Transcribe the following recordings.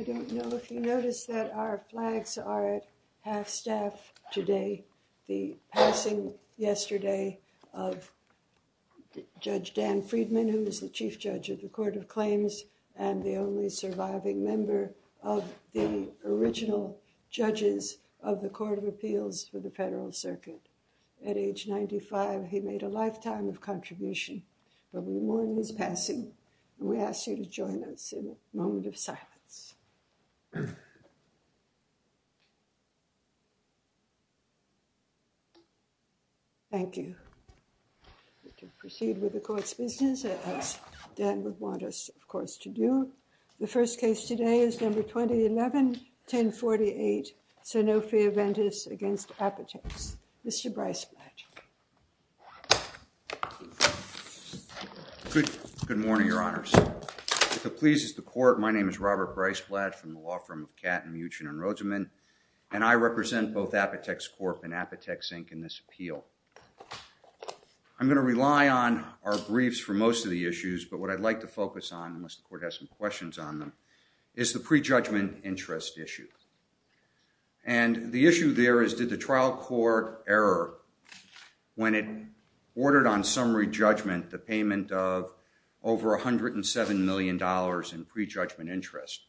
I don't know if you noticed that our flags are at half staff today. The passing yesterday of Judge Dan Friedman, who is the Chief Judge of the Court of Claims and the only surviving member of the original judges of the Court of Appeals for the Federal Circuit. At age 95, he made a lifetime of contribution. But we mourn his passing, and we ask you to join us in a moment of silence. Thank you. We can proceed with the court's business, as Dan would want us, of course, to do. The first case today is number 2011-1048, SANOFI-AVENTIS v. APOTEX. Mr. Breisblatt. Robert Breisblatt Good morning, Your Honors. If it pleases the Court, my name is Robert Breisblatt from the law firm of Katten, Muchen, and Rozeman, and I represent both Apotex Corp and Apotex, Inc. in this appeal. I'm going to rely on our briefs for most of the issues, but what I'd like to focus on, unless the Court has some questions on them, is the prejudgment interest issue. And the issue there is, did the trial court error when it ordered on summary judgment the payment of over $107 million in prejudgment interest,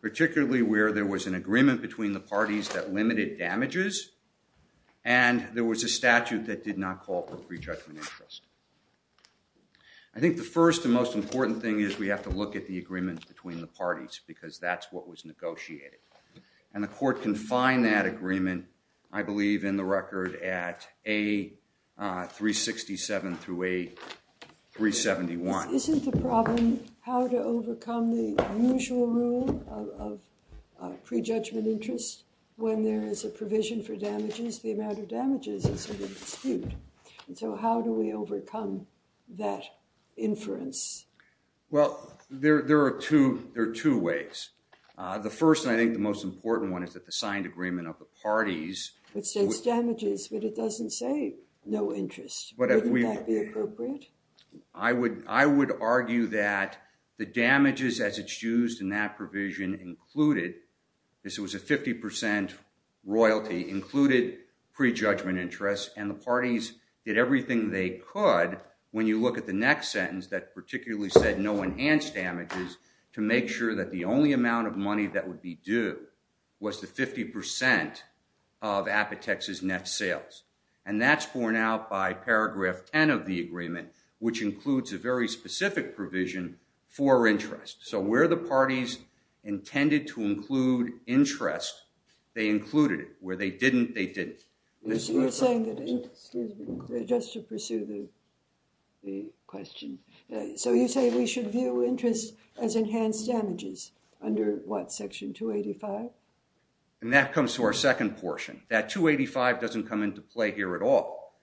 particularly where there was an agreement between the parties that limited damages, and there was a statute that did not call for prejudgment interest? I think the first and most important thing is we have to look at the agreement between the parties, because that's what was negotiated. And the Court can find that agreement, I believe, in the record at A367 through A371. Isn't the problem how to overcome the usual rule of prejudgment interest? When there is a provision for damages, the amount of damages is sort of disputed, and so how do we overcome that inference? Well, there are two ways. The first, and I think the most important one, is that the signed agreement of the parties. It says damages, but it doesn't say no interest. Wouldn't that be appropriate? I would argue that the damages as it's used in that provision included, this was a 50% royalty, included prejudgment interest. And the parties did everything they could. When you look at the next sentence that particularly said no enhanced damages, to make sure that the only amount of money that would be due was the 50% of Apotex's net sales. And that's borne out by paragraph 10 of the agreement, which includes a very specific provision for interest. So where the parties intended to include interest, they included it, where they didn't, they didn't. You're saying that interest, excuse me, just to pursue the question. So you say we should view interest as enhanced damages under what, section 285? And that comes to our second portion. That 285 doesn't come into play here at all.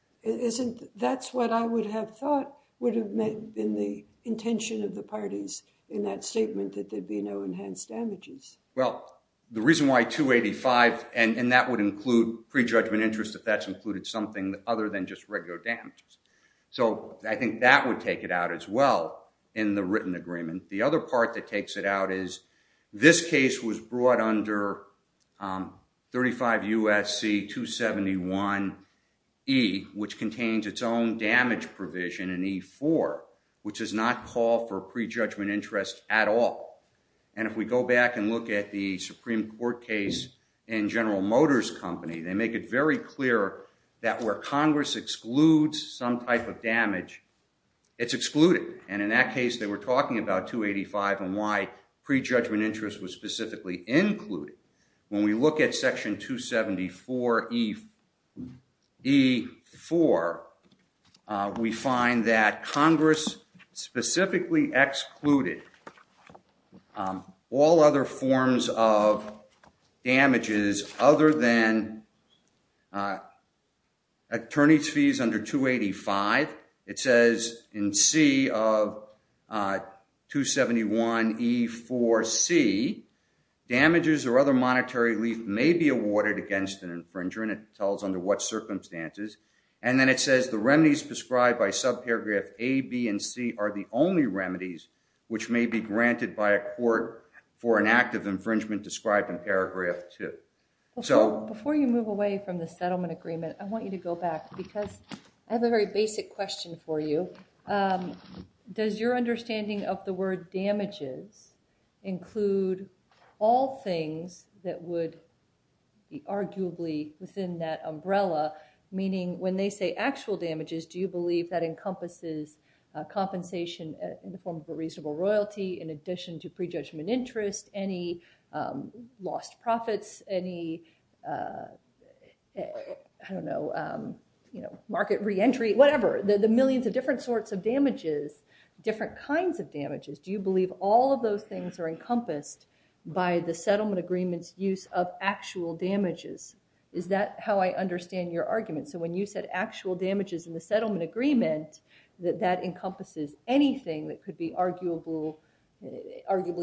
That's what I would have thought would have been the intention of the parties in that statement that there'd be no enhanced damages. Well, the reason why 285, and that would include prejudgment interest if that's included something other than just regular damages. So I think that would take it out as well in the written agreement. The other part that takes it out is this case was brought under 35 USC 271E, which contains its own damage provision in E4, which does not call for prejudgment interest at all. And if we go back and look at the Supreme Court case in General Motors Company, they make it very clear that where Congress excludes some type of damage, it's excluded. And in that case, they were talking about 285 and why prejudgment interest was specifically included. When we look at section 274E4, we find that Congress specifically excluded all other forms of damages other than attorney's fees under 285. It says in C of 271E4C, damages or other monetary relief may be awarded against an infringer, and it tells under what circumstances. And then it says the remedies prescribed by subparagraph A, B, and C are the only remedies which may be granted by a court for an act of infringement described in paragraph 2. Before you move away from the settlement agreement, I want you to go back because I have a very basic question for you. Does your understanding of the word damages include all things that would be arguably within that umbrella? Meaning when they say actual damages, do you compensation in the form of a reasonable royalty in addition to prejudgment interest, any lost profits, any market reentry, whatever, the millions of different sorts of damages, different kinds of damages? Do you believe all of those things are encompassed by the settlement agreement's use of actual damages? Is that how I understand your argument? So when you said actual damages in the settlement agreement, that that encompasses anything that could be arguably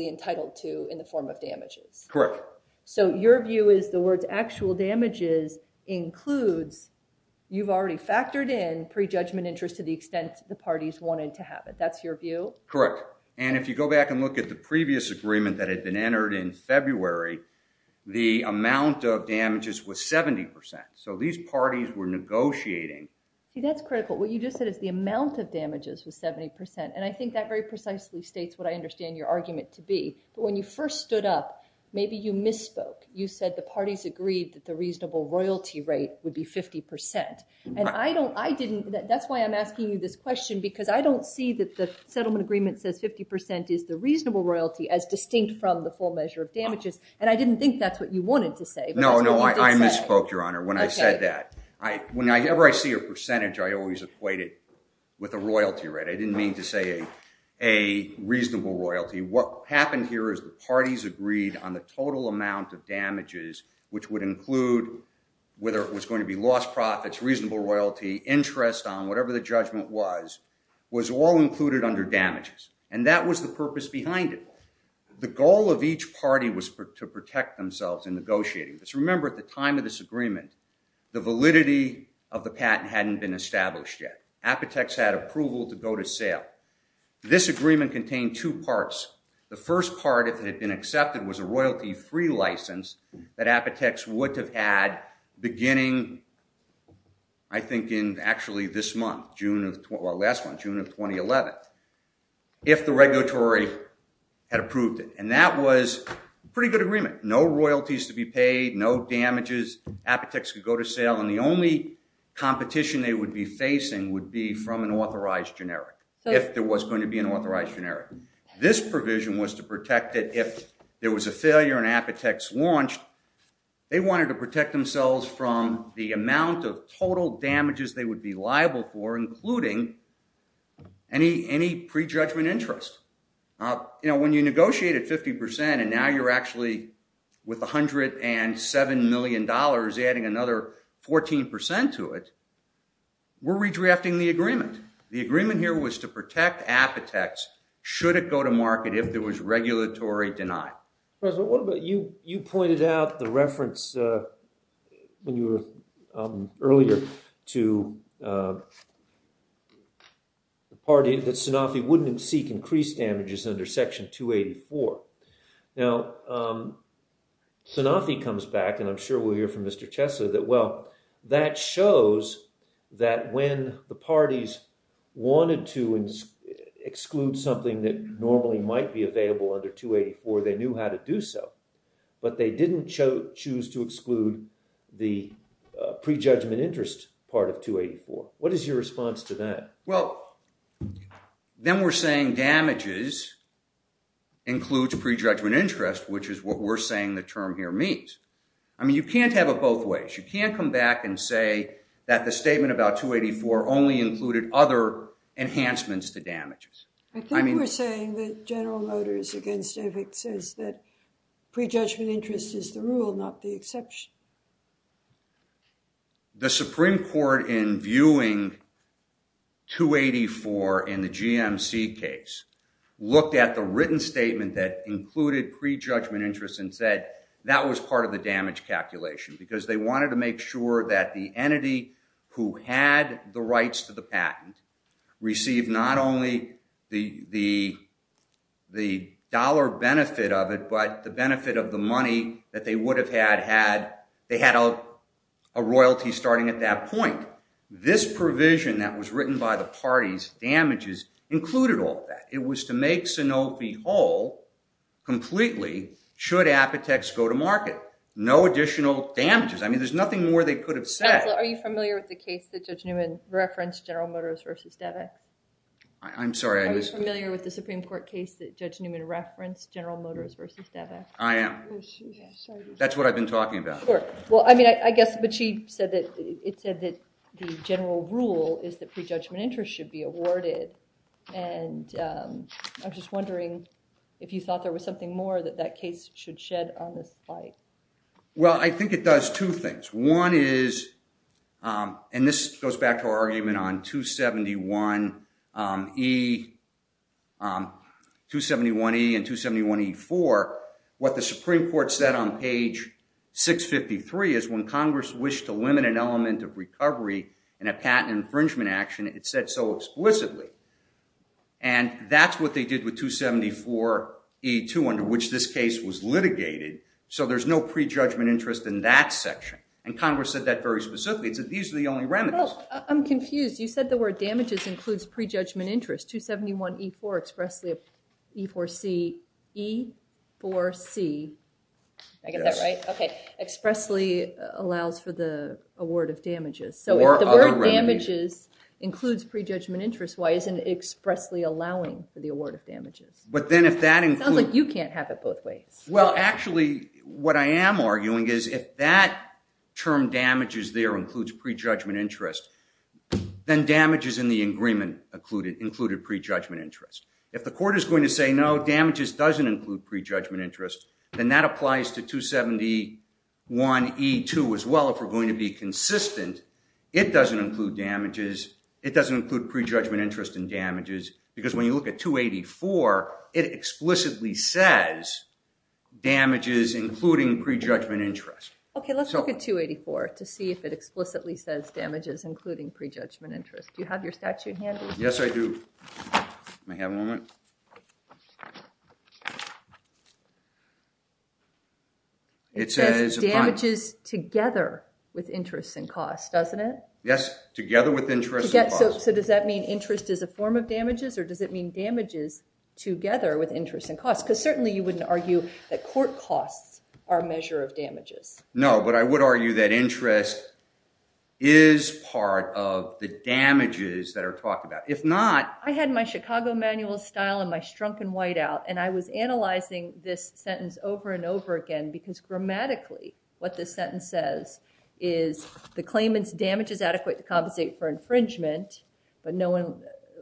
entitled to in the form of damages. Correct. So your view is the words actual damages includes, you've already factored in prejudgment interest to the extent the parties wanted to have it. That's your view? Correct. And if you go back and look at the previous agreement that had been entered in February, the amount of damages was 70%. So these parties were negotiating. See, that's critical. What you just said is the amount of damages was 70%. And I think that very precisely states what I understand your argument to be. But when you first stood up, maybe you misspoke. You said the parties agreed that the reasonable royalty rate would be 50%. And that's why I'm asking you this question, because I don't see that the settlement agreement says 50% is the reasonable royalty as distinct from the full measure of damages. And I didn't think that's what you wanted to say. No, no, I misspoke, Your Honor. When I said that, whenever I see a percentage, I always equate it with a royalty rate. I didn't mean to say a reasonable royalty. What happened here is the parties agreed on the total amount of damages, which would include whether it was going to be lost profits, reasonable royalty, interest on whatever the judgment was, was all included under damages. And that was the purpose behind it. The goal of each party was to protect themselves in negotiating. Let's remember, at the time of this agreement, the validity of the patent hadn't been established yet. Apotex had approval to go to sale. This agreement contained two parts. The first part, if it had been accepted, was a royalty-free license that Apotex would have had beginning, I think, in actually this month, June of, well, last month, June of 2011, if the regulatory had approved it. And that was a pretty good agreement. No royalties to be paid, no damages. Apotex could go to sale. And the only competition they would be facing would be from an authorized generic, if there was going to be an authorized generic. This provision was to protect it if there was a failure and Apotex launched. They wanted to protect themselves from the amount of total damages they would be liable for, including any prejudgment interest. You know, when you negotiate at 50% and now you're actually, with $107 million, adding another 14% to it, we're redrafting the agreement. The agreement here was to protect Apotex, should it go to market, if there was regulatory deny. President, what about you? You pointed out the reference, when you were earlier, to the party that Sanofi wouldn't seek increased damages under Section 284. Now, Sanofi comes back, and I'm sure we'll hear from Mr. Chessler, that, well, that shows that when the parties wanted to exclude something that normally might be available under 284, they knew how to do so. But they didn't choose to exclude the prejudgment interest part of 284. What is your response to that? Well, then we're saying damages includes prejudgment interest, which is what we're saying the term here means. I mean, you can't have it both ways. You can't come back and say that the statement about 284 only included other enhancements to damages. I think we're saying that General Motors, again, says that prejudgment interest is the rule, not the exception. The Supreme Court, in viewing 284 in the GMC case, looked at the written statement that included prejudgment interest and said that was part of the damage calculation, because they wanted to make sure that the entity who had the rights to the patent received not only the dollar benefit of it, but the benefit of the money that they would have had had. They had a royalty starting at that point. This provision that was written by the parties, damages, included all of that. It was to make Sanofi whole completely should Apotex go to market. No additional damages. I mean, there's nothing more they could have said. Counsel, are you familiar with the case that Judge Newman referenced, General Motors versus DAVEC? I'm sorry, I missed that. Are you familiar with the Supreme Court case that Judge Newman referenced, General Motors versus DAVEC? I am. That's what I've been talking about. Well, I mean, I guess, but it said that the general rule is that prejudgment interest should be awarded. And I'm just wondering if you thought there was something more that that case should shed on this fight. Well, I think it does two things. One is, and this goes back to our argument on 271E and 271E4, what the Supreme Court said on page 653 is when Congress wished to limit an element of recovery in a patent infringement action, it said so explicitly. And that's what they did with 274E2, under which this case was litigated. So there's no prejudgment interest in that section. And Congress said that very specifically. It said these are the only remedies. I'm confused. You said the word damages includes prejudgment interest. 271E4 expressly, E4C, E4C, did I get that right? OK, expressly allows for the award of damages. So if the word damages includes prejudgment interest, why isn't it expressly allowing for the award of damages? But then if that includes- Sounds like you can't have it both ways. Well, actually, what I am arguing is if that term damages there includes prejudgment interest, then damages in the agreement included prejudgment interest. If the court is going to say no, damages doesn't include prejudgment interest, then that applies to 271E2 as well. If we're going to be consistent, it doesn't include damages. It doesn't include prejudgment interest in damages. Because when you look at 284, it explicitly says damages including prejudgment interest. OK, let's look at 284 to see if it explicitly says damages including prejudgment interest. Do you have your statute handy? Yes, I do. May I have a moment? It says damages together with interest and cost, doesn't it? Yes, together with interest and cost. So does that mean interest is a form of damages, or does it mean damages together with interest and cost? Because certainly you wouldn't argue that court costs are a measure of damages. No, but I would argue that interest is part of the damages that are talked about. If not- I had my Chicago manual style and my strunken whiteout, and I was analyzing this sentence over and over again. Because grammatically, what this sentence says is the claimant's damage is adequate to compensate for infringement, but no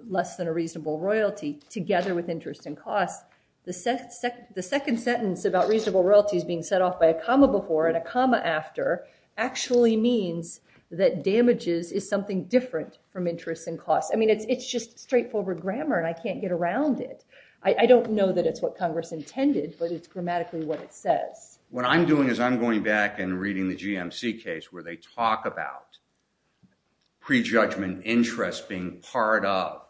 less than a reasonable royalty, together with interest and cost. The second sentence about reasonable royalties being set off by a comma before and a comma after actually means that damages is something different from interest and cost. I mean, it's just straightforward grammar, and I can't get around it. I don't know that it's what Congress intended, but it's grammatically what it says. What I'm doing is I'm going back and reading the GMC case where they talk about prejudgment interest being part of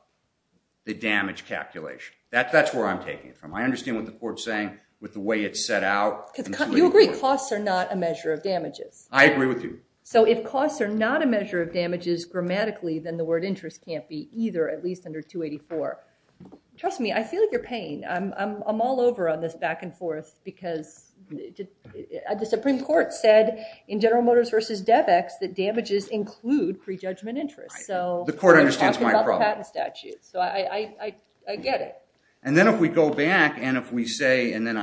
the damage calculation. That's where I'm taking it from. I understand what the court's saying with the way it's set out. You agree costs are not a measure of damages. I agree with you. So if costs are not a measure of damages grammatically, then the word interest can't be either, at least under 284. Trust me, I feel your pain. I'm all over on this back and forth, because the Supreme Court said in General Motors versus DevEx that damages include prejudgment interest. So they're talking about the patent statute. So I get it. And then if we go back, and if we say, and then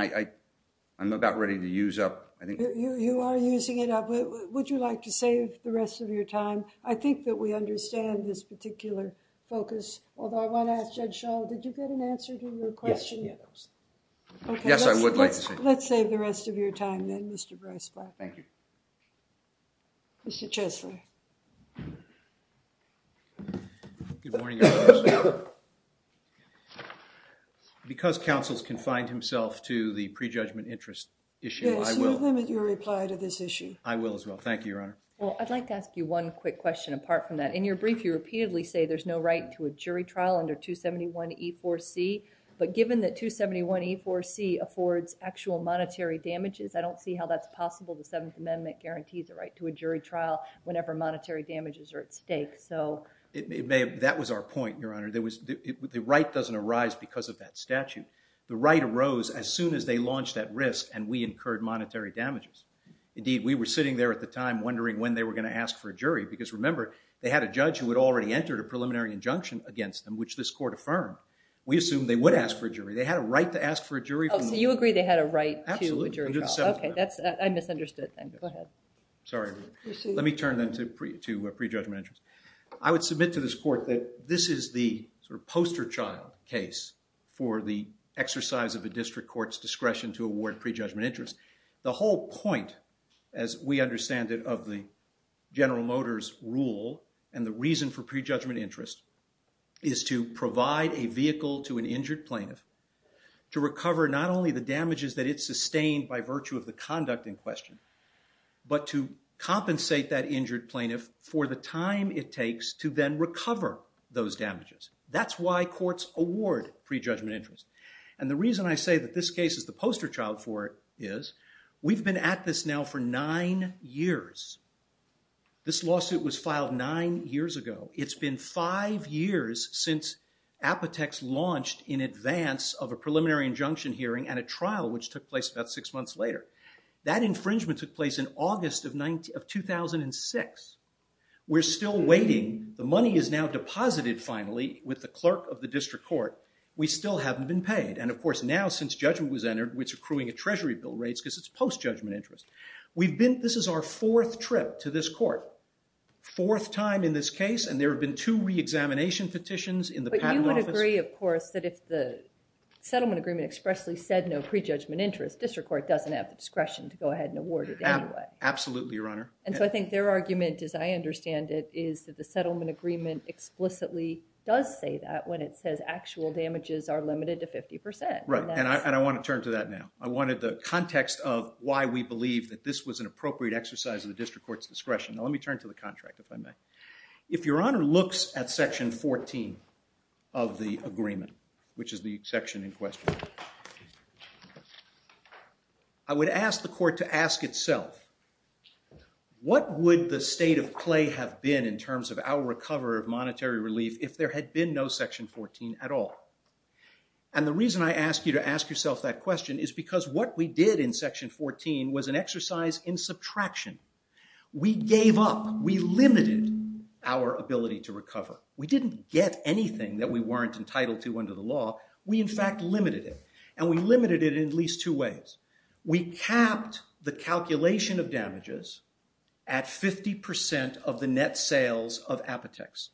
I'm about ready to use up. You are using it up. Would you like to save the rest of your time? I think that we understand this particular focus. Although I want to ask Judge Schall, did you get an answer to your question? Yes, I would like to see it. Let's save the rest of your time, then, Mr. Brice-Black. Thank you. Mr. Chesler. Good morning, Your Honor. Because counsel's confined himself to the prejudgment interest issue, I will. Yes, you limit your reply to this issue. I will as well. Thank you, Your Honor. Well, I'd like to ask you one quick question apart from that. In your brief, you repeatedly say there's no right to a jury trial under 271E4C. But given that 271E4C affords actual monetary damages, I don't see how that's possible. The Seventh Amendment guarantees a right to a jury trial whenever monetary damages are at stake, so. It may have, that was our point, Your Honor. There was, the right doesn't arise because of that statute. The right arose as soon as they launched that risk, and we incurred monetary damages. Indeed, we were sitting there at the time wondering when they were going to ask for a jury, because remember, they had a judge who had already entered a preliminary injunction against them, which this court affirmed. We assumed they would ask for a jury. They had a right to ask for a jury. Oh, so you agree they had a right to a jury trial. Absolutely, under the Seventh Amendment. Okay, that's, I misunderstood then, go ahead. Sorry, let me turn then to pre-judgment interest. I would submit to this court that this is the sort of poster child case for the exercise of a district court's discretion to award pre-judgment interest. The whole point, as we understand it, of the General Motors rule and the reason for pre-judgment interest is to provide a vehicle to an injured plaintiff to recover not only the damages that it sustained by virtue of the conduct in question, but to compensate that injured plaintiff for the time it takes to then recover those damages. That's why courts award pre-judgment interest. And the reason I say that this case is the poster child for it is, we've been at this now for nine years. This lawsuit was filed nine years ago. It's been five years since Apotex launched in advance of a preliminary injunction hearing and a trial which took place about six months later. That infringement took place in August of 2006. We're still waiting. The money is now deposited finally with the clerk of the district court. We still haven't been paid. And of course now since judgment was entered, we're accruing a treasury bill rates because it's post-judgment interest. This is our fourth trip to this court, fourth time in this case. And there have been two re-examination petitions in the patent office. But you would agree, of course, that if the settlement agreement expressly said no pre-judgment interest, district court doesn't have the discretion to go ahead and award it anyway. Absolutely, Your Honor. And so I think their argument, as I understand it, is that the settlement agreement explicitly does say that when it says actual damages are limited to 50%. Right, and I want to turn to that now. I wanted the context of why we believe that this was an appropriate exercise of the district court's discretion. Now let me turn to the contract, if I may. If Your Honor looks at section 14 of the agreement, which is the section in question, I would ask the court to ask itself, what would the state of play have been in terms of our recover of monetary relief if there had been no section 14 at all? And the reason I ask you to ask yourself that question is because what we did in section 14 was an exercise in subtraction. We gave up. We limited our ability to recover. We didn't get anything that we weren't entitled to under the law. We, in fact, limited it. And we limited it in at least two ways. We capped the calculation of damages at 50% of the net sales of Apotex.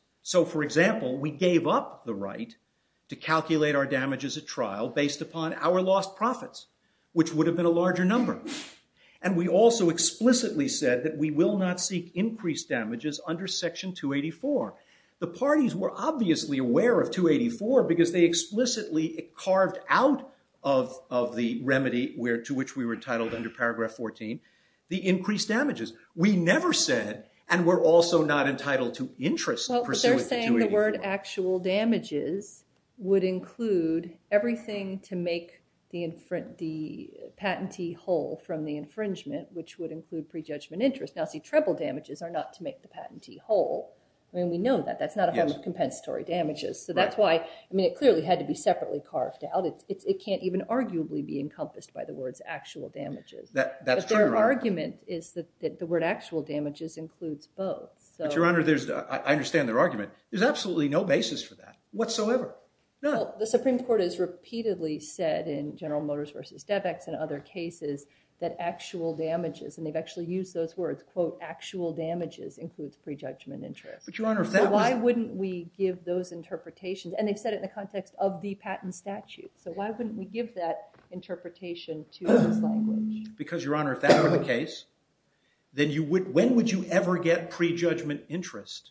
Based upon our lost profits, which would have been a larger number. And we also explicitly said that we will not seek increased damages under section 284. The parties were obviously aware of 284 because they explicitly carved out of the remedy to which we were titled under paragraph 14, the increased damages. We never said, and we're also not entitled to interest pursuant to 284. Well, they're saying the word actual damages would include everything to make the patentee whole from the infringement, which would include prejudgment interest. Now, see, treble damages are not to make the patentee whole. I mean, we know that. That's not a form of compensatory damages. So that's why, I mean, it clearly had to be separately carved out. It can't even arguably be encompassed by the words actual damages. That's true, Your Honor. But their argument is that the word actual damages includes both. But, Your Honor, I understand their argument. There's absolutely no basis for that whatsoever, none. The Supreme Court has repeatedly said in General Motors versus DevEx and other cases that actual damages, and they've actually used those words, quote, actual damages includes prejudgment interest. But, Your Honor, if that was the case, why wouldn't we give those interpretations? And they've said it in the context of the patent statute. So why wouldn't we give that interpretation to this language? Because, Your Honor, if that were the case, then when would you ever get prejudgment interest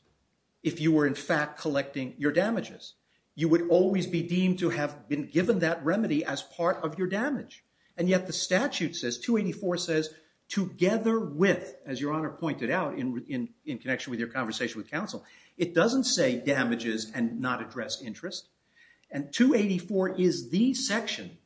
if you were, in fact, collecting your damages? You would always be deemed to have been given that remedy as part of your damage. And yet the statute says, 284 says, together with, as Your Honor pointed out in connection with your conversation with counsel, it doesn't say damages and not address interest. And 284 is the section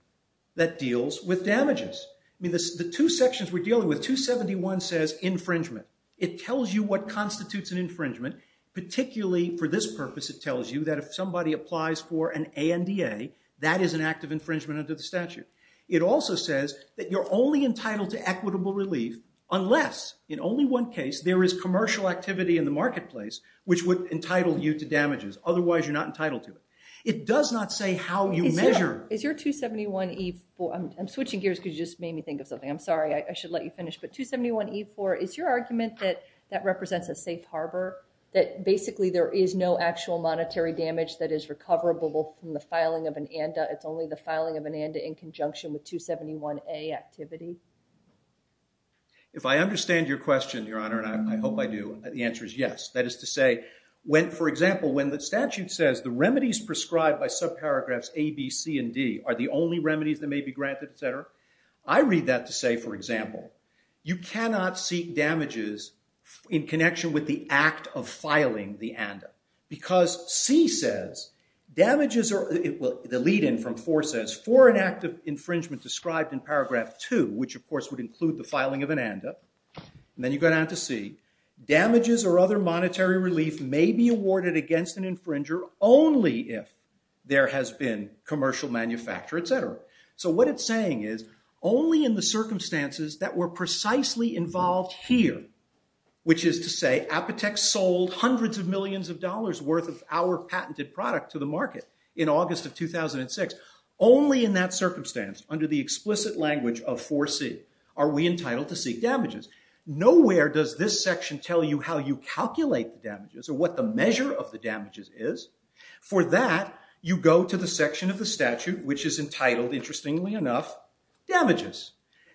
that deals with damages. I mean, the two sections we're dealing with, 271 says infringement. It tells you what constitutes an infringement. Particularly for this purpose, it tells you that if somebody applies for an ANDA, that is an act of infringement under the statute. It also says that you're only entitled to equitable relief unless, in only one case, there is commercial activity in the marketplace, which would entitle you to damages. Otherwise, you're not entitled to it. It does not say how you measure. Is your 271E4, I'm switching gears because you just made me think of something. I'm sorry, I should let you finish. But 271E4, is your argument that that represents a safe harbor? That basically there is no actual monetary damage that is recoverable from the filing of an ANDA. It's only the filing of an ANDA in conjunction with 271A activity? If I understand your question, Your Honor, and I hope I do, the answer is yes. That is to say, when, for example, when the statute says the remedies prescribed by subparagraphs A, B, C, and D are the only remedies that may be granted, etc. I read that to say, for example, you cannot seek damages in connection with the act of filing the ANDA. Because C says, damages are, the lead in from 4 says, for an act of infringement described in paragraph 2, which, of course, would include the filing of an ANDA, and then you go down to C, damages or other monetary relief may be awarded against an infringer only if there has been commercial manufacture, etc. So what it's saying is, only in the circumstances that were precisely involved here, which is to say, Apotex sold hundreds of millions of dollars worth of our patented product to the market in August of 2006, only in that circumstance, under the explicit language of 4C, are we entitled to seek damages. Nowhere does this section tell you how you calculate the damages, or what the measure of the damages is. For that, you go to the section of the statute, which is entitled, interestingly enough, damages.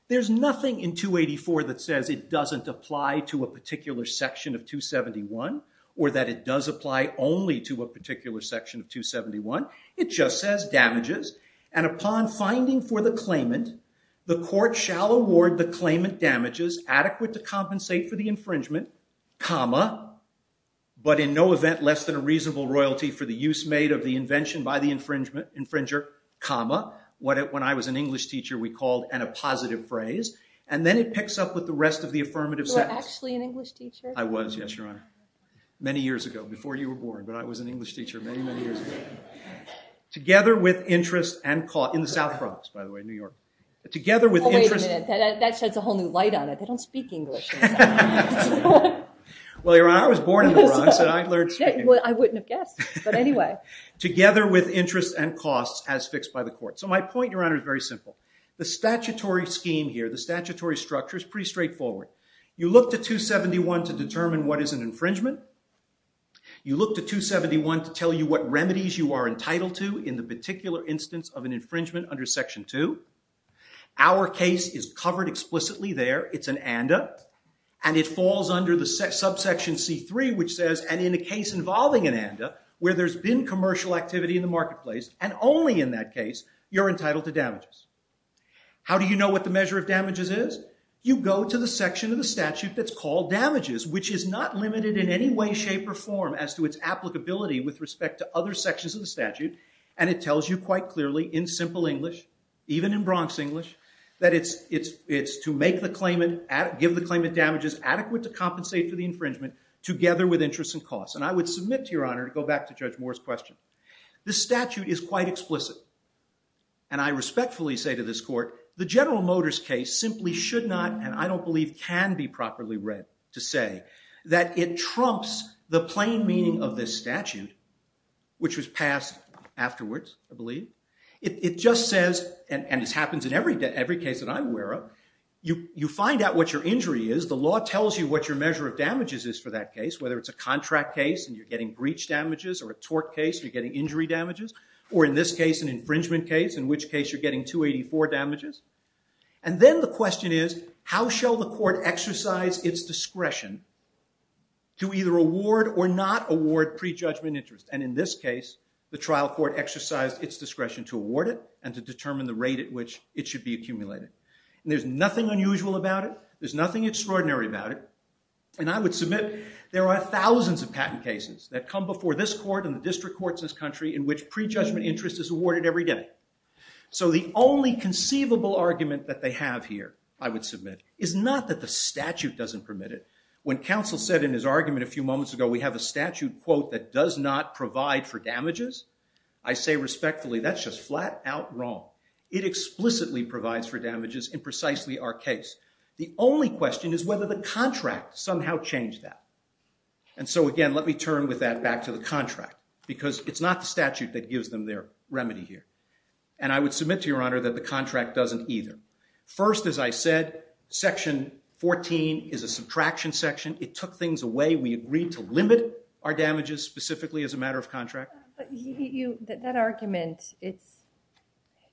There's nothing in 284 that says it doesn't apply to a particular section of 271, or that it does apply only to a particular section of 271. It just says damages. And upon finding for the claimant, the court shall award the claimant damages adequate to compensate for the infringement, comma, but in no event less than a reasonable royalty for the use made of the invention by the infringer, comma, what when I was an English teacher we called an appositive phrase. And then it picks up with the rest of the affirmative sentence. You were actually an English teacher? I was, yes, Your Honor. Many years ago, before you were born. But I was an English teacher many, many years ago. Together with interest and cause. In the South Bronx, by the way, New York. Together with interest and cause. That sheds a whole new light on it. They don't speak English in the South Bronx. Well, Your Honor, I was born in the Bronx. Well, I wouldn't have guessed. But anyway. Together with interest and cause, as fixed by the court. So my point, Your Honor, is very simple. The statutory scheme here, the statutory structure is pretty straightforward. You look to 271 to determine what is an infringement. You look to 271 to tell you what remedies you are entitled to in the particular instance of an infringement under Section 2. Our case is covered explicitly there. It's an ANDA. And it falls under the subsection C3, which says, and in a case involving an ANDA, where there's been commercial activity in the marketplace, and only in that case, you're entitled to damages. How do you know what the measure of damages is? You go to the section of the statute that's called damages, which is not limited in any way, shape, or form as to its applicability with respect to other sections of the statute. And it tells you quite clearly, in simple English, even in Bronx English, that it's to give the claimant damages adequate to compensate for the infringement, together with interest and cost. And I would submit to your honor to go back to Judge Moore's question. This statute is quite explicit. And I respectfully say to this court, the General Motors case simply should not, and I don't believe, can be properly read to say that it trumps the plain meaning of this statute, which was passed afterwards, I believe. It just says, and this happens in every case that I'm aware of, you find out what your injury is. The law tells you what your measure of damages is for that case, whether it's a contract case, and you're getting breach damages, or a tort case, and you're getting injury damages, or in this case, an infringement case, in which case you're getting 284 damages. And then the question is, how shall the court exercise its discretion to either award or not award prejudgment interest? And in this case, the trial court exercised its discretion to award it and to determine the rate at which it should be accumulated. And there's nothing unusual about it. There's nothing extraordinary about it. And I would submit there are thousands of patent cases that come before this court and the district courts in this country in which prejudgment interest is awarded every day. So the only conceivable argument that they have here, I would submit, is not that the statute doesn't permit it. When counsel said in his argument a few moments ago, we have a statute, quote, that does not provide for damages, I say respectfully, that's just flat out wrong. It explicitly provides for damages in precisely our case. The only question is whether the contract somehow changed that. And so again, let me turn with that back to the contract, because it's not the statute that gives them their remedy here. And I would submit to your honor that the contract doesn't either. First, as I said, section 14 is a subtraction section. It took things away. We agreed to limit our damages specifically as a matter of contract. That argument,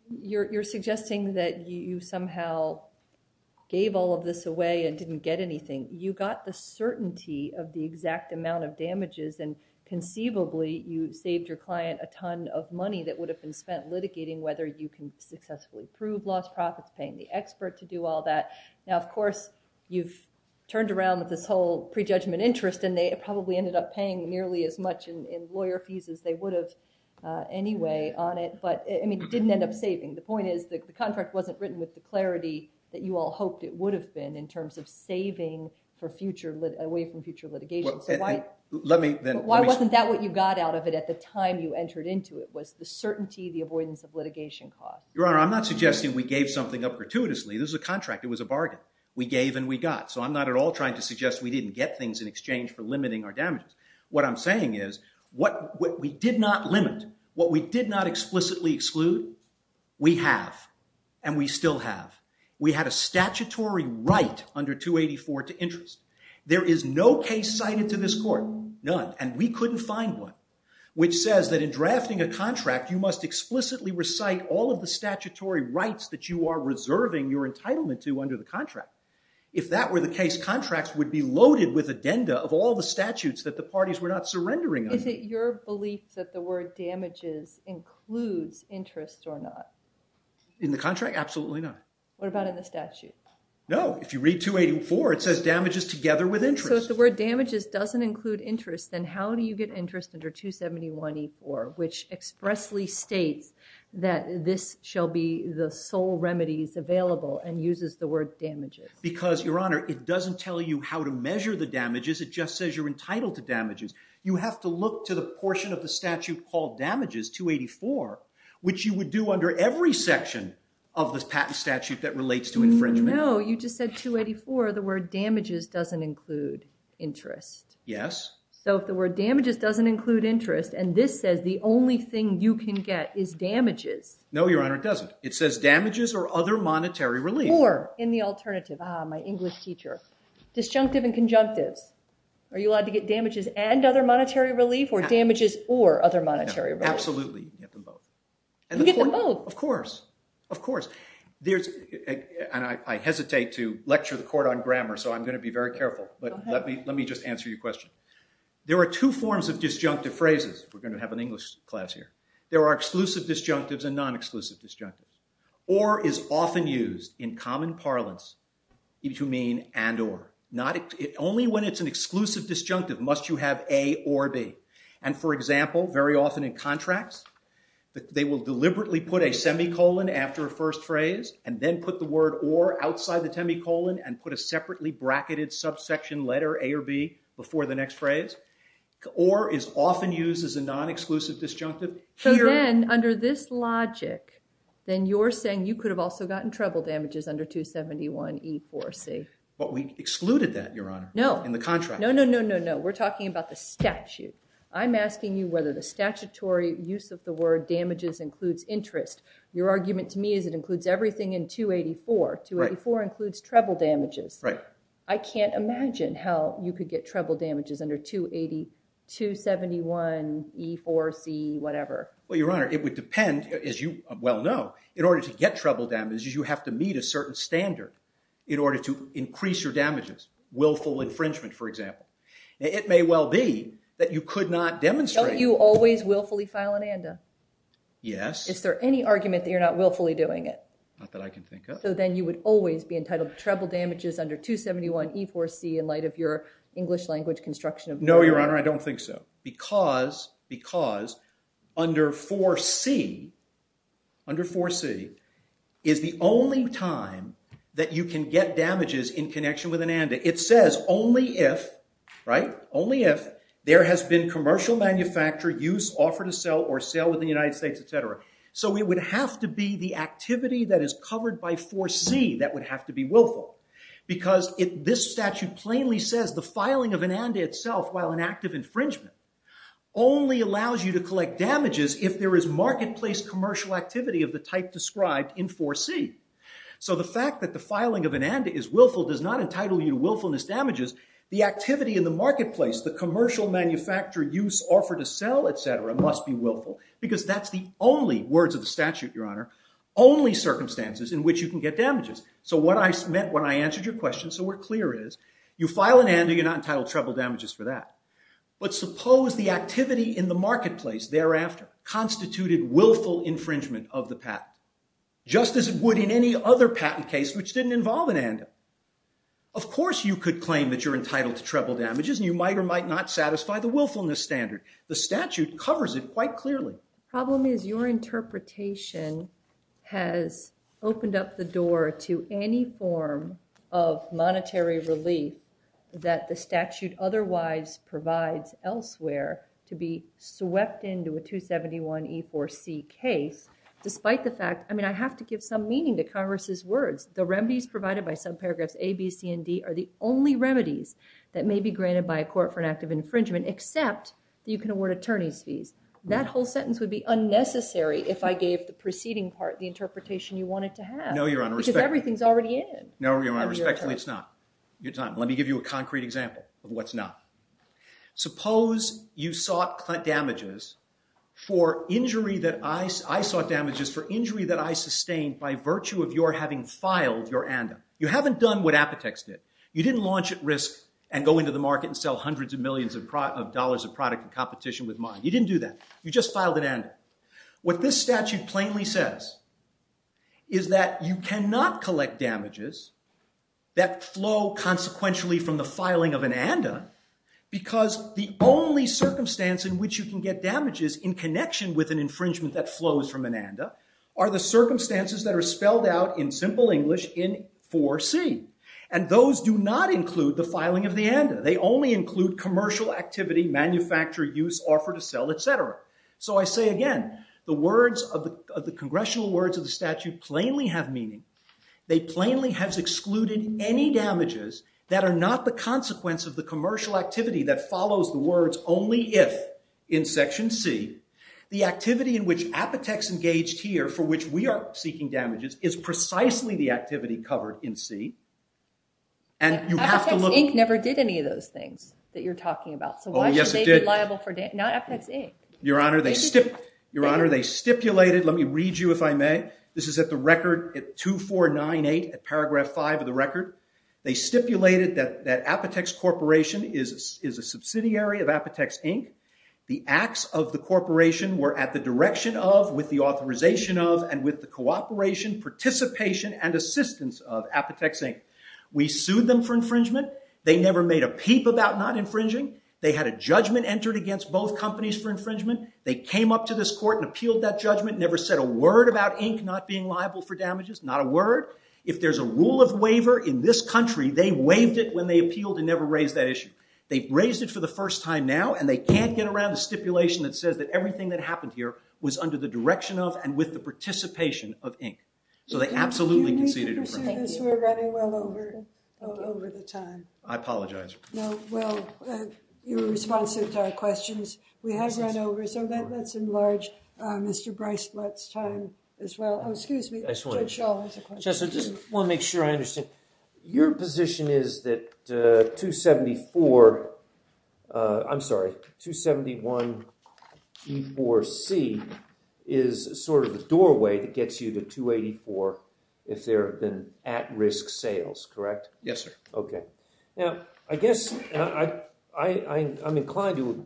you're suggesting that you somehow gave all of this away and didn't get anything. You got the certainty of the exact amount of damages. And conceivably, you saved your client a ton of money that would have been spent litigating whether you can successfully prove lost profits, paying the expert to do all that. Now, of course, you've turned around with this whole prejudgment interest. And they probably ended up paying nearly as much in lawyer fees as they would have anyway on it. But it didn't end up saving. The point is that the contract wasn't written with the clarity that you all hoped it would have been in terms of saving away from future litigation. Why wasn't that what you got out of it at the time you entered into it, was the certainty, the avoidance of litigation cost? Your honor, I'm not suggesting we gave something up gratuitously. This is a contract. It was a bargain. We gave and we got. So I'm not at all trying to suggest we didn't get things in exchange for limiting our damages. What I'm saying is what we did not limit, what we did not explicitly exclude, we have. And we still have. We had a statutory right under 284 to interest. There is no case cited to this court, none. And we couldn't find one, which says that in drafting a contract, you must explicitly recite all of the statutory rights that you are reserving your entitlement to under the contract. If that were the case, contracts would be loaded with addenda of all the statutes that the parties were not surrendering on. Is it your belief that the word damages includes interest or not? In the contract, absolutely not. What about in the statute? No, if you read 284, it says damages together with interest. So if the word damages doesn't include interest, then how do you get interest under 271E4, which expressly states that this shall be the sole remedies available and uses the word damages? Because, your honor, it doesn't tell you how to measure the damages. It just says you're entitled to damages. You have to look to the portion of the statute called damages, 284, which you would do under every section of this patent statute that relates to infringement. No, you just said 284. The word damages doesn't include interest. Yes. So if the word damages doesn't include interest, and this says the only thing you can get is damages. No, your honor, it doesn't. It says damages or other monetary relief. Or, in the alternative, my English teacher, disjunctive and conjunctives. Are you allowed to get damages and other monetary relief or damages or other monetary relief? Absolutely, you can get them both. You can get them both? Of course. Of course. And I hesitate to lecture the court on grammar, so I'm going to be very careful. But let me just answer your question. There are two forms of disjunctive phrases. We're going to have an English class here. There are exclusive disjunctives and non-exclusive disjunctives. Or is often used in common parlance between mean and or. Only when it's an exclusive disjunctive must you have a or b. And for example, very often in contracts, they will deliberately put a semicolon after a first phrase and then put the word or outside the semicolon and put a separately bracketed subsection letter, a or b, before the next phrase. Or is often used as a non-exclusive disjunctive. So then, under this logic, then you're saying you could have also gotten treble damages under 271E4C. But we excluded that, Your Honor, in the contract. No, no, no, no, no. We're talking about the statute. I'm asking you whether the statutory use of the word damages includes interest. Your argument to me is it includes everything in 284. 284 includes treble damages. I can't imagine how you could get treble damages under 271E4C, whatever. Well, Your Honor, it would depend, as you well know, in order to get treble damages, you have to meet a certain standard in order to increase your damages. Willful infringement, for example. It may well be that you could not demonstrate. Don't you always willfully file an ANDA? Yes. Is there any argument that you're not willfully doing it? Not that I can think of. So then you would always be entitled to treble damages under 271E4C in light of your English language construction of the word. No, Your Honor, I don't think so. Because under 4C is the only time that you can get damages in connection with an ANDA. It says only if there has been commercial manufacture, use, offer to sell, or sale with the United States, et cetera. So it would have to be the activity that is covered by 4C that would have to be willful. Because this statute plainly says the filing of an ANDA itself, while an act of infringement, only allows you to collect damages if there is marketplace commercial activity of the type described in 4C. So the fact that the filing of an ANDA is willful does not entitle you to willfulness damages. The activity in the marketplace, the commercial manufacture, use, offer to sell, et cetera, must be willful. Because that's the only, words of the statute, Your Honor, only circumstances in which you can get damages. So what I meant when I answered your question, so we're clear is, you file an ANDA, you're not entitled to treble damages for that. But suppose the activity in the marketplace thereafter constituted willful infringement of the patent. Just as it would in any other patent case which didn't involve an ANDA. Of course you could claim that you're entitled to treble damages, and you might or might not satisfy the willfulness standard. The statute covers it quite clearly. The problem is your interpretation has opened up the door to any form of monetary relief that the statute otherwise provides elsewhere to be swept into a 271E4C case. Despite the fact, I mean, I have to give some meaning to Congress's words. The remedies provided by subparagraphs A, B, C, and D are the only remedies that may be granted by a court for an act of infringement, except that you can award attorney's fees. That whole sentence would be unnecessary if I gave the preceding part the interpretation you wanted to have. No, Your Honor, respectfully. Because everything's already in it. No, Your Honor, respectfully, it's not. It's not. Let me give you a concrete example of what's not. Suppose you sought damages for injury that I sustained by virtue of your having filed your ANDA. You haven't done what Apotex did. You didn't launch at risk and go into the market and sell hundreds of millions of dollars of product in competition with mine. You didn't do that. You just filed an ANDA. What this statute plainly says is that you cannot collect damages that flow consequentially from the filing of an ANDA, because the only circumstance in which you can get damages in connection with an infringement that flows from an ANDA are the circumstances that are spelled out in simple English in 4C. And those do not include the filing of the ANDA. They only include commercial activity, manufacturer use, offer to sell, et cetera. So I say again, the congressional words of the statute plainly have meaning. They plainly have excluded any damages that are not the consequence of the commercial activity that The activity in which Apotex engaged here, for which we are seeking damages, is precisely the activity covered in C. And you have to look. Apotex, Inc. never did any of those things that you're talking about. So why should they be liable for damages? Not Apotex, Inc. Your Honor, they stipulated. Let me read you, if I may. This is at the record at 2498, at paragraph 5 of the record. They stipulated that Apotex Corporation is a subsidiary of Apotex, Inc. The acts of the corporation were at the direction of, with the authorization of, and with the cooperation, participation, and assistance of Apotex, Inc. We sued them for infringement. They never made a peep about not infringing. They had a judgment entered against both companies for infringement. They came up to this court and appealed that judgment. Never said a word about Inc. not being liable for damages. Not a word. If there's a rule of waiver in this country, they waived it when they appealed and never raised that issue. They raised it for the first time now. And they can't get around the stipulation that says that everything that happened here was under the direction of, and with the participation of, Inc. So they absolutely conceded infringement. You need to pursue this. We're running well over the time. I apologize. No, well, you were responsive to our questions. We have run over. So let's enlarge Mr. Bricelot's time as well. Oh, excuse me. I just wanted to make sure I understand. Your position is that 274, I'm sorry, 271E4C is sort of the doorway that gets you to 284 if there have been at-risk sales, correct? Yes, sir. OK. Now, I guess I'm inclined to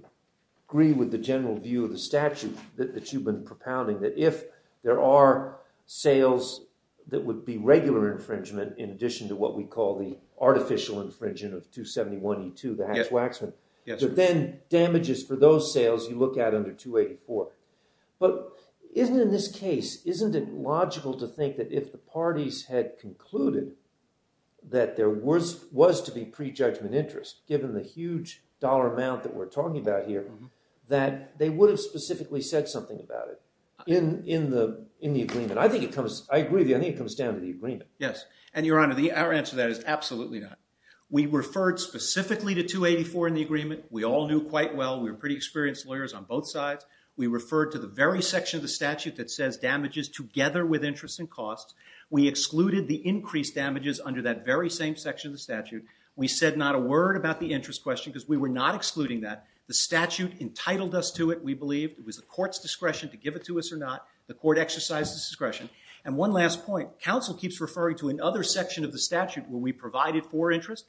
agree with the general view of the statute that you've been propounding, that if there are sales that would be regular infringement in addition to what we call the artificial infringement of 271E2, the hatch-waxman, that then damages for those sales you look at under 284. But isn't it in this case, isn't it logical to think that if the parties had concluded that there was to be prejudgment interest, given the huge dollar amount that we're talking about here, that they would have specifically said something about it in the agreement? I think it comes, I agree with you. I think it comes down to the agreement. Yes. And Your Honor, our answer to that is absolutely not. We referred specifically to 284 in the agreement. We all knew quite well. We were pretty experienced lawyers on both sides. We referred to the very section of the statute that says damages together with interest and costs. We excluded the increased damages under that very same section of the statute. We said not a word about the interest question because we were not excluding that. The statute entitled us to it, we believe. It was the court's discretion to give it to us or not. The court exercised its discretion. And one last point. Counsel keeps referring to another section of the statute where we provided for interest.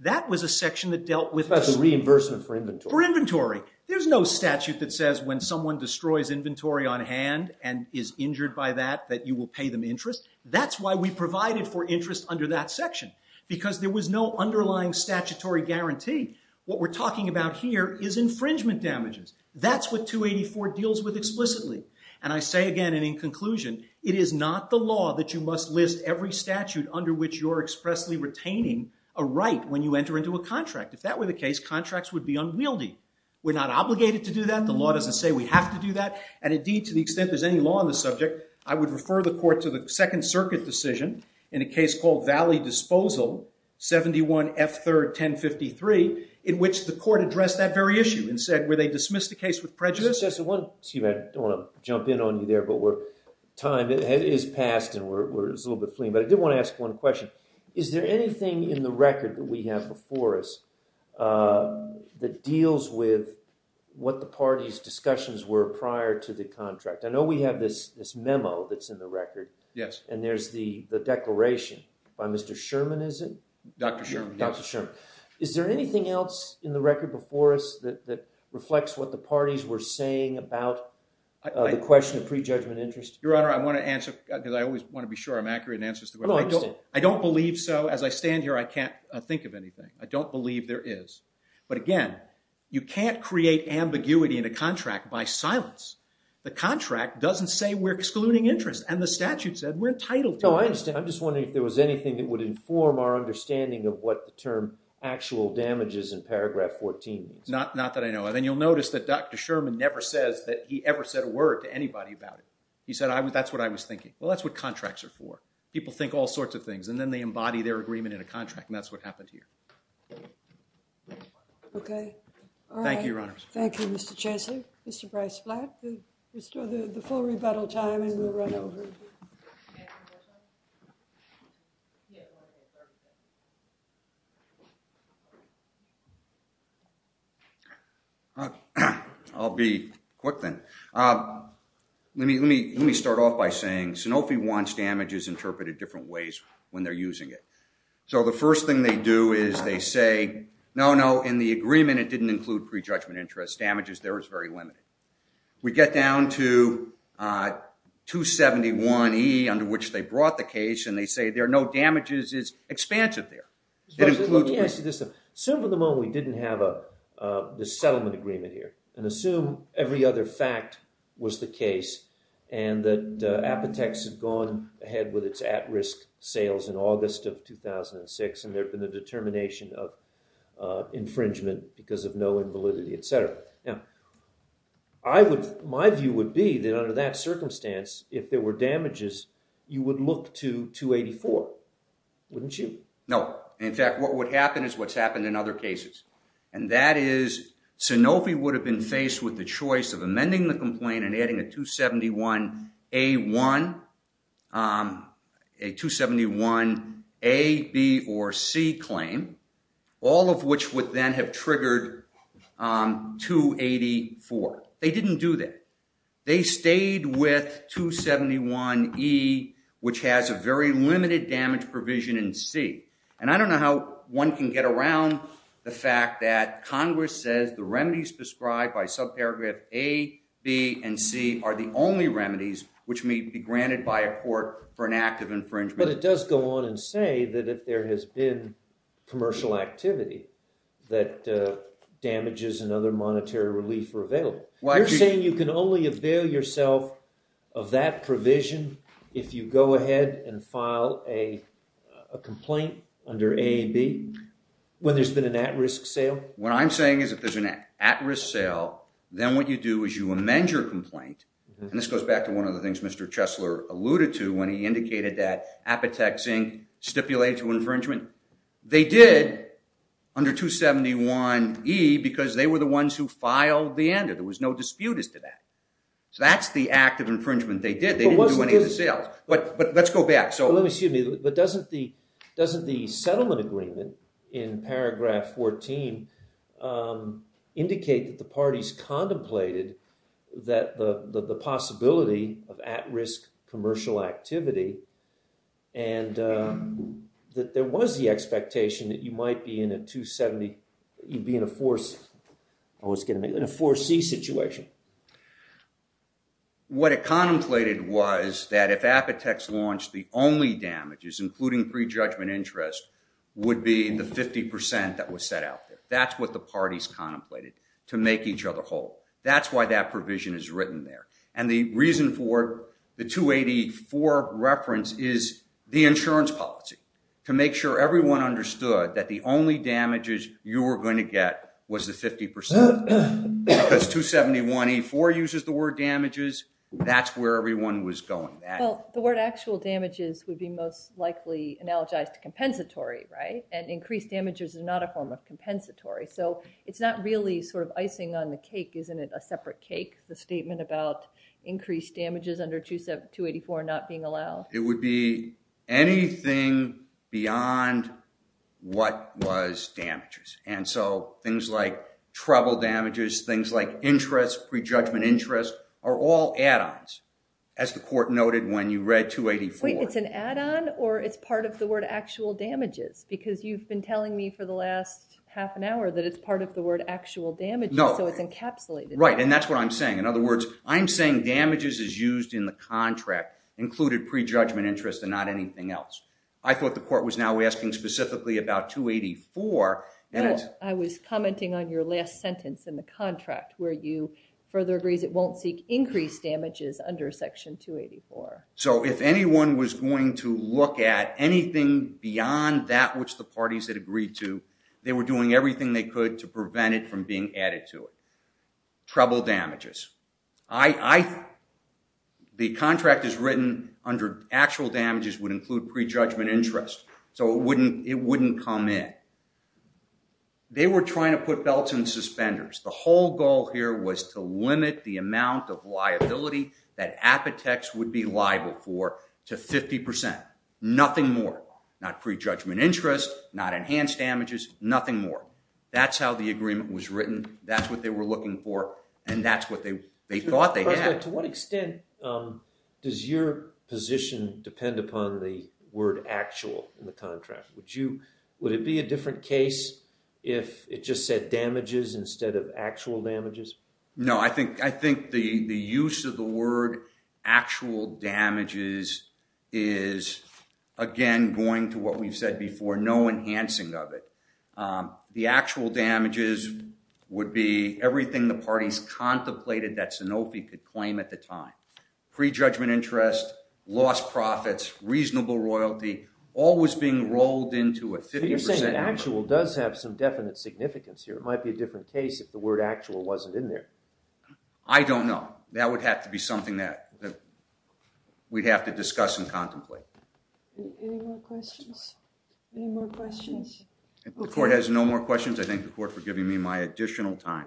That was a section that dealt with the reimbursement for inventory. For inventory. There's no statute that says when someone destroys inventory on hand and is injured by that, that you will pay them interest. That's why we provided for interest under that section because there was no underlying statutory guarantee. What we're talking about here is infringement damages. That's what 284 deals with explicitly. And I say again and in conclusion, it is not the law that you must list every statute under which you're expressly retaining a right when you enter into a contract. If that were the case, contracts would be unwieldy. We're not obligated to do that. The law doesn't say we have to do that. And indeed, to the extent there's any law on the subject, I would refer the court to the Second Circuit decision in a case called Valley Disposal, 71 F3rd 1053, in which the court addressed that very issue and said, were they dismissed the case with prejudice? Excuse me. I don't want to jump in on you there, but time has passed, and we're a little bit fleeing. But I did want to ask one question. Is there anything in the record that we have before us that deals with what the party's discussions were prior to the contract? I know we have this memo that's in the record, and there's the declaration by Mr. Sherman, is it? Dr. Sherman. Dr. Sherman. Is there anything else in the record before us that reflects what the parties were saying about the question of prejudgment interest? Your Honor, I want to answer, because I always want to be sure I'm accurate in answers to questions. I don't believe so. As I stand here, I can't think of anything. I don't believe there is. But again, you can't create ambiguity in a contract by silence. The contract doesn't say we're excluding interest. And the statute said we're entitled to it. I'm just wondering if there was anything that would inform our understanding of what the term actual damages in paragraph 14 means. Not that I know of. And you'll notice that Dr. Sherman never says that he ever said a word to anybody about it. He said, that's what I was thinking. Well, that's what contracts are for. People think all sorts of things, and then they embody their agreement in a contract. And that's what happened here. OK. Thank you, Your Honor. Thank you, Mr. Chancellor. Mr. Bryce-Flatt, let's do the full rebuttal time, and we'll run over. I'll be quick, then. Let me start off by saying Sanofi wants damages interpreted different ways when they're using it. So the first thing they do is they say, no, no. In the agreement, it didn't include prejudgment interest. Damages there is very limited. We get down to 271E, under which they brought the case. And they say, there are no damages. It's expansive there. Let me ask you this. Assume for the moment we didn't have this settlement agreement here, and assume every other fact was the case, and that Apotex had gone ahead with its at-risk sales in August of 2006, and there had been a determination of infringement because of no invalidity, et cetera. Now, my view would be that under that circumstance, if there were damages, you would look to 284, wouldn't you? No. In fact, what would happen is what's happened in other cases. And that is, Sanofi would have been faced with the choice of amending the complaint and adding a 271A, B, or C claim, all of which would then have triggered 284. They didn't do that. They stayed with 271E, which has a very limited damage provision in C. And I don't know how one can get around the fact that Congress says the remedies prescribed by subparagraph A, B, and C are the only remedies which may be granted by a court for an act of infringement. But it does go on and say that if there has been commercial activity, that damages and other monetary relief were available. You're saying you can only avail yourself of that provision if you go ahead and file a complaint under A and B when there's been an at-risk sale? What I'm saying is if there's an at-risk sale, then what you do is you amend your complaint. And this goes back to one of the things Mr. Chesler alluded to when he indicated that Apotex, Inc. stipulated to infringement. They did under 271E, because they were the ones who filed the end. There was no dispute as to that. So that's the act of infringement they did. They didn't do any of the sales. But let's go back. So let me see. But doesn't the settlement agreement in paragraph 14 indicate that the parties contemplated that the possibility of at-risk commercial activity and that there was the expectation that you might be in a 270, you'd be in a 4C situation? What it contemplated was that if Apotex launched, the only damages, including pre-judgment interest, would be the 50% that was set out there. That's what the parties contemplated to make each other whole. That's why that provision is written there. And the reason for the 284 reference is the insurance policy, to make sure everyone understood that the only damages you were going to get was the 50%. Because 271E4 uses the word damages. That's where everyone was going. The word actual damages would be most likely analogized to compensatory, right? And increased damages is not a form of compensatory. So it's not really sort of icing on the cake, isn't it, a separate cake, the statement about increased damages under 284 not being allowed? It would be anything beyond what was damages. And so things like treble damages, things like interest, pre-judgment interest, are all add-ons, as the court noted when you read 284. Wait, it's an add-on, or it's part of the word actual damages? Because you've been telling me for the last half an hour that it's part of the word actual damages, so it's encapsulated. Right, and that's what I'm saying. In other words, I'm saying damages is used in the contract, included pre-judgment interest, and not anything else. I thought the court was now asking specifically about 284, I was commenting on your last sentence in the contract, where you further agrees it won't seek increased damages under section 284. So if anyone was going to look at anything beyond that which the parties had agreed to, they were doing everything they could to prevent it from being added to it. Treble damages, the contract is written under actual damages would include pre-judgment interest, so it wouldn't come in. They were trying to put belts and suspenders. The whole goal here was to limit the amount of liability that Apotex would be liable for to 50%, nothing more. Not pre-judgment interest, not enhanced damages, nothing more. That's how the agreement was written, that's what they were looking for, and that's what they thought they had. To what extent does your position depend upon the word actual in the contract? Would it be a different case if it just said damages instead of actual damages? No, I think the use of the word actual damages is, again, going to what we've said before, no enhancing of it. The actual damages would be everything the parties contemplated that Sanofi could claim at the time. Pre-judgment interest, lost profits, reasonable royalty, all was being rolled into a 50% number. So you're saying that actual does have some definite significance here. It might be a different case if the word actual wasn't in there. I don't know. That would have to be something that we'd have to discuss and contemplate. Any more questions? Any more questions? If the court has no more questions, I thank the court for giving me my additional time.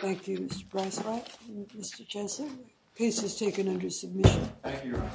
Thank you, Mr. Braswack and Mr. Jensen. Case is taken under submission. Thank you, Your Honor.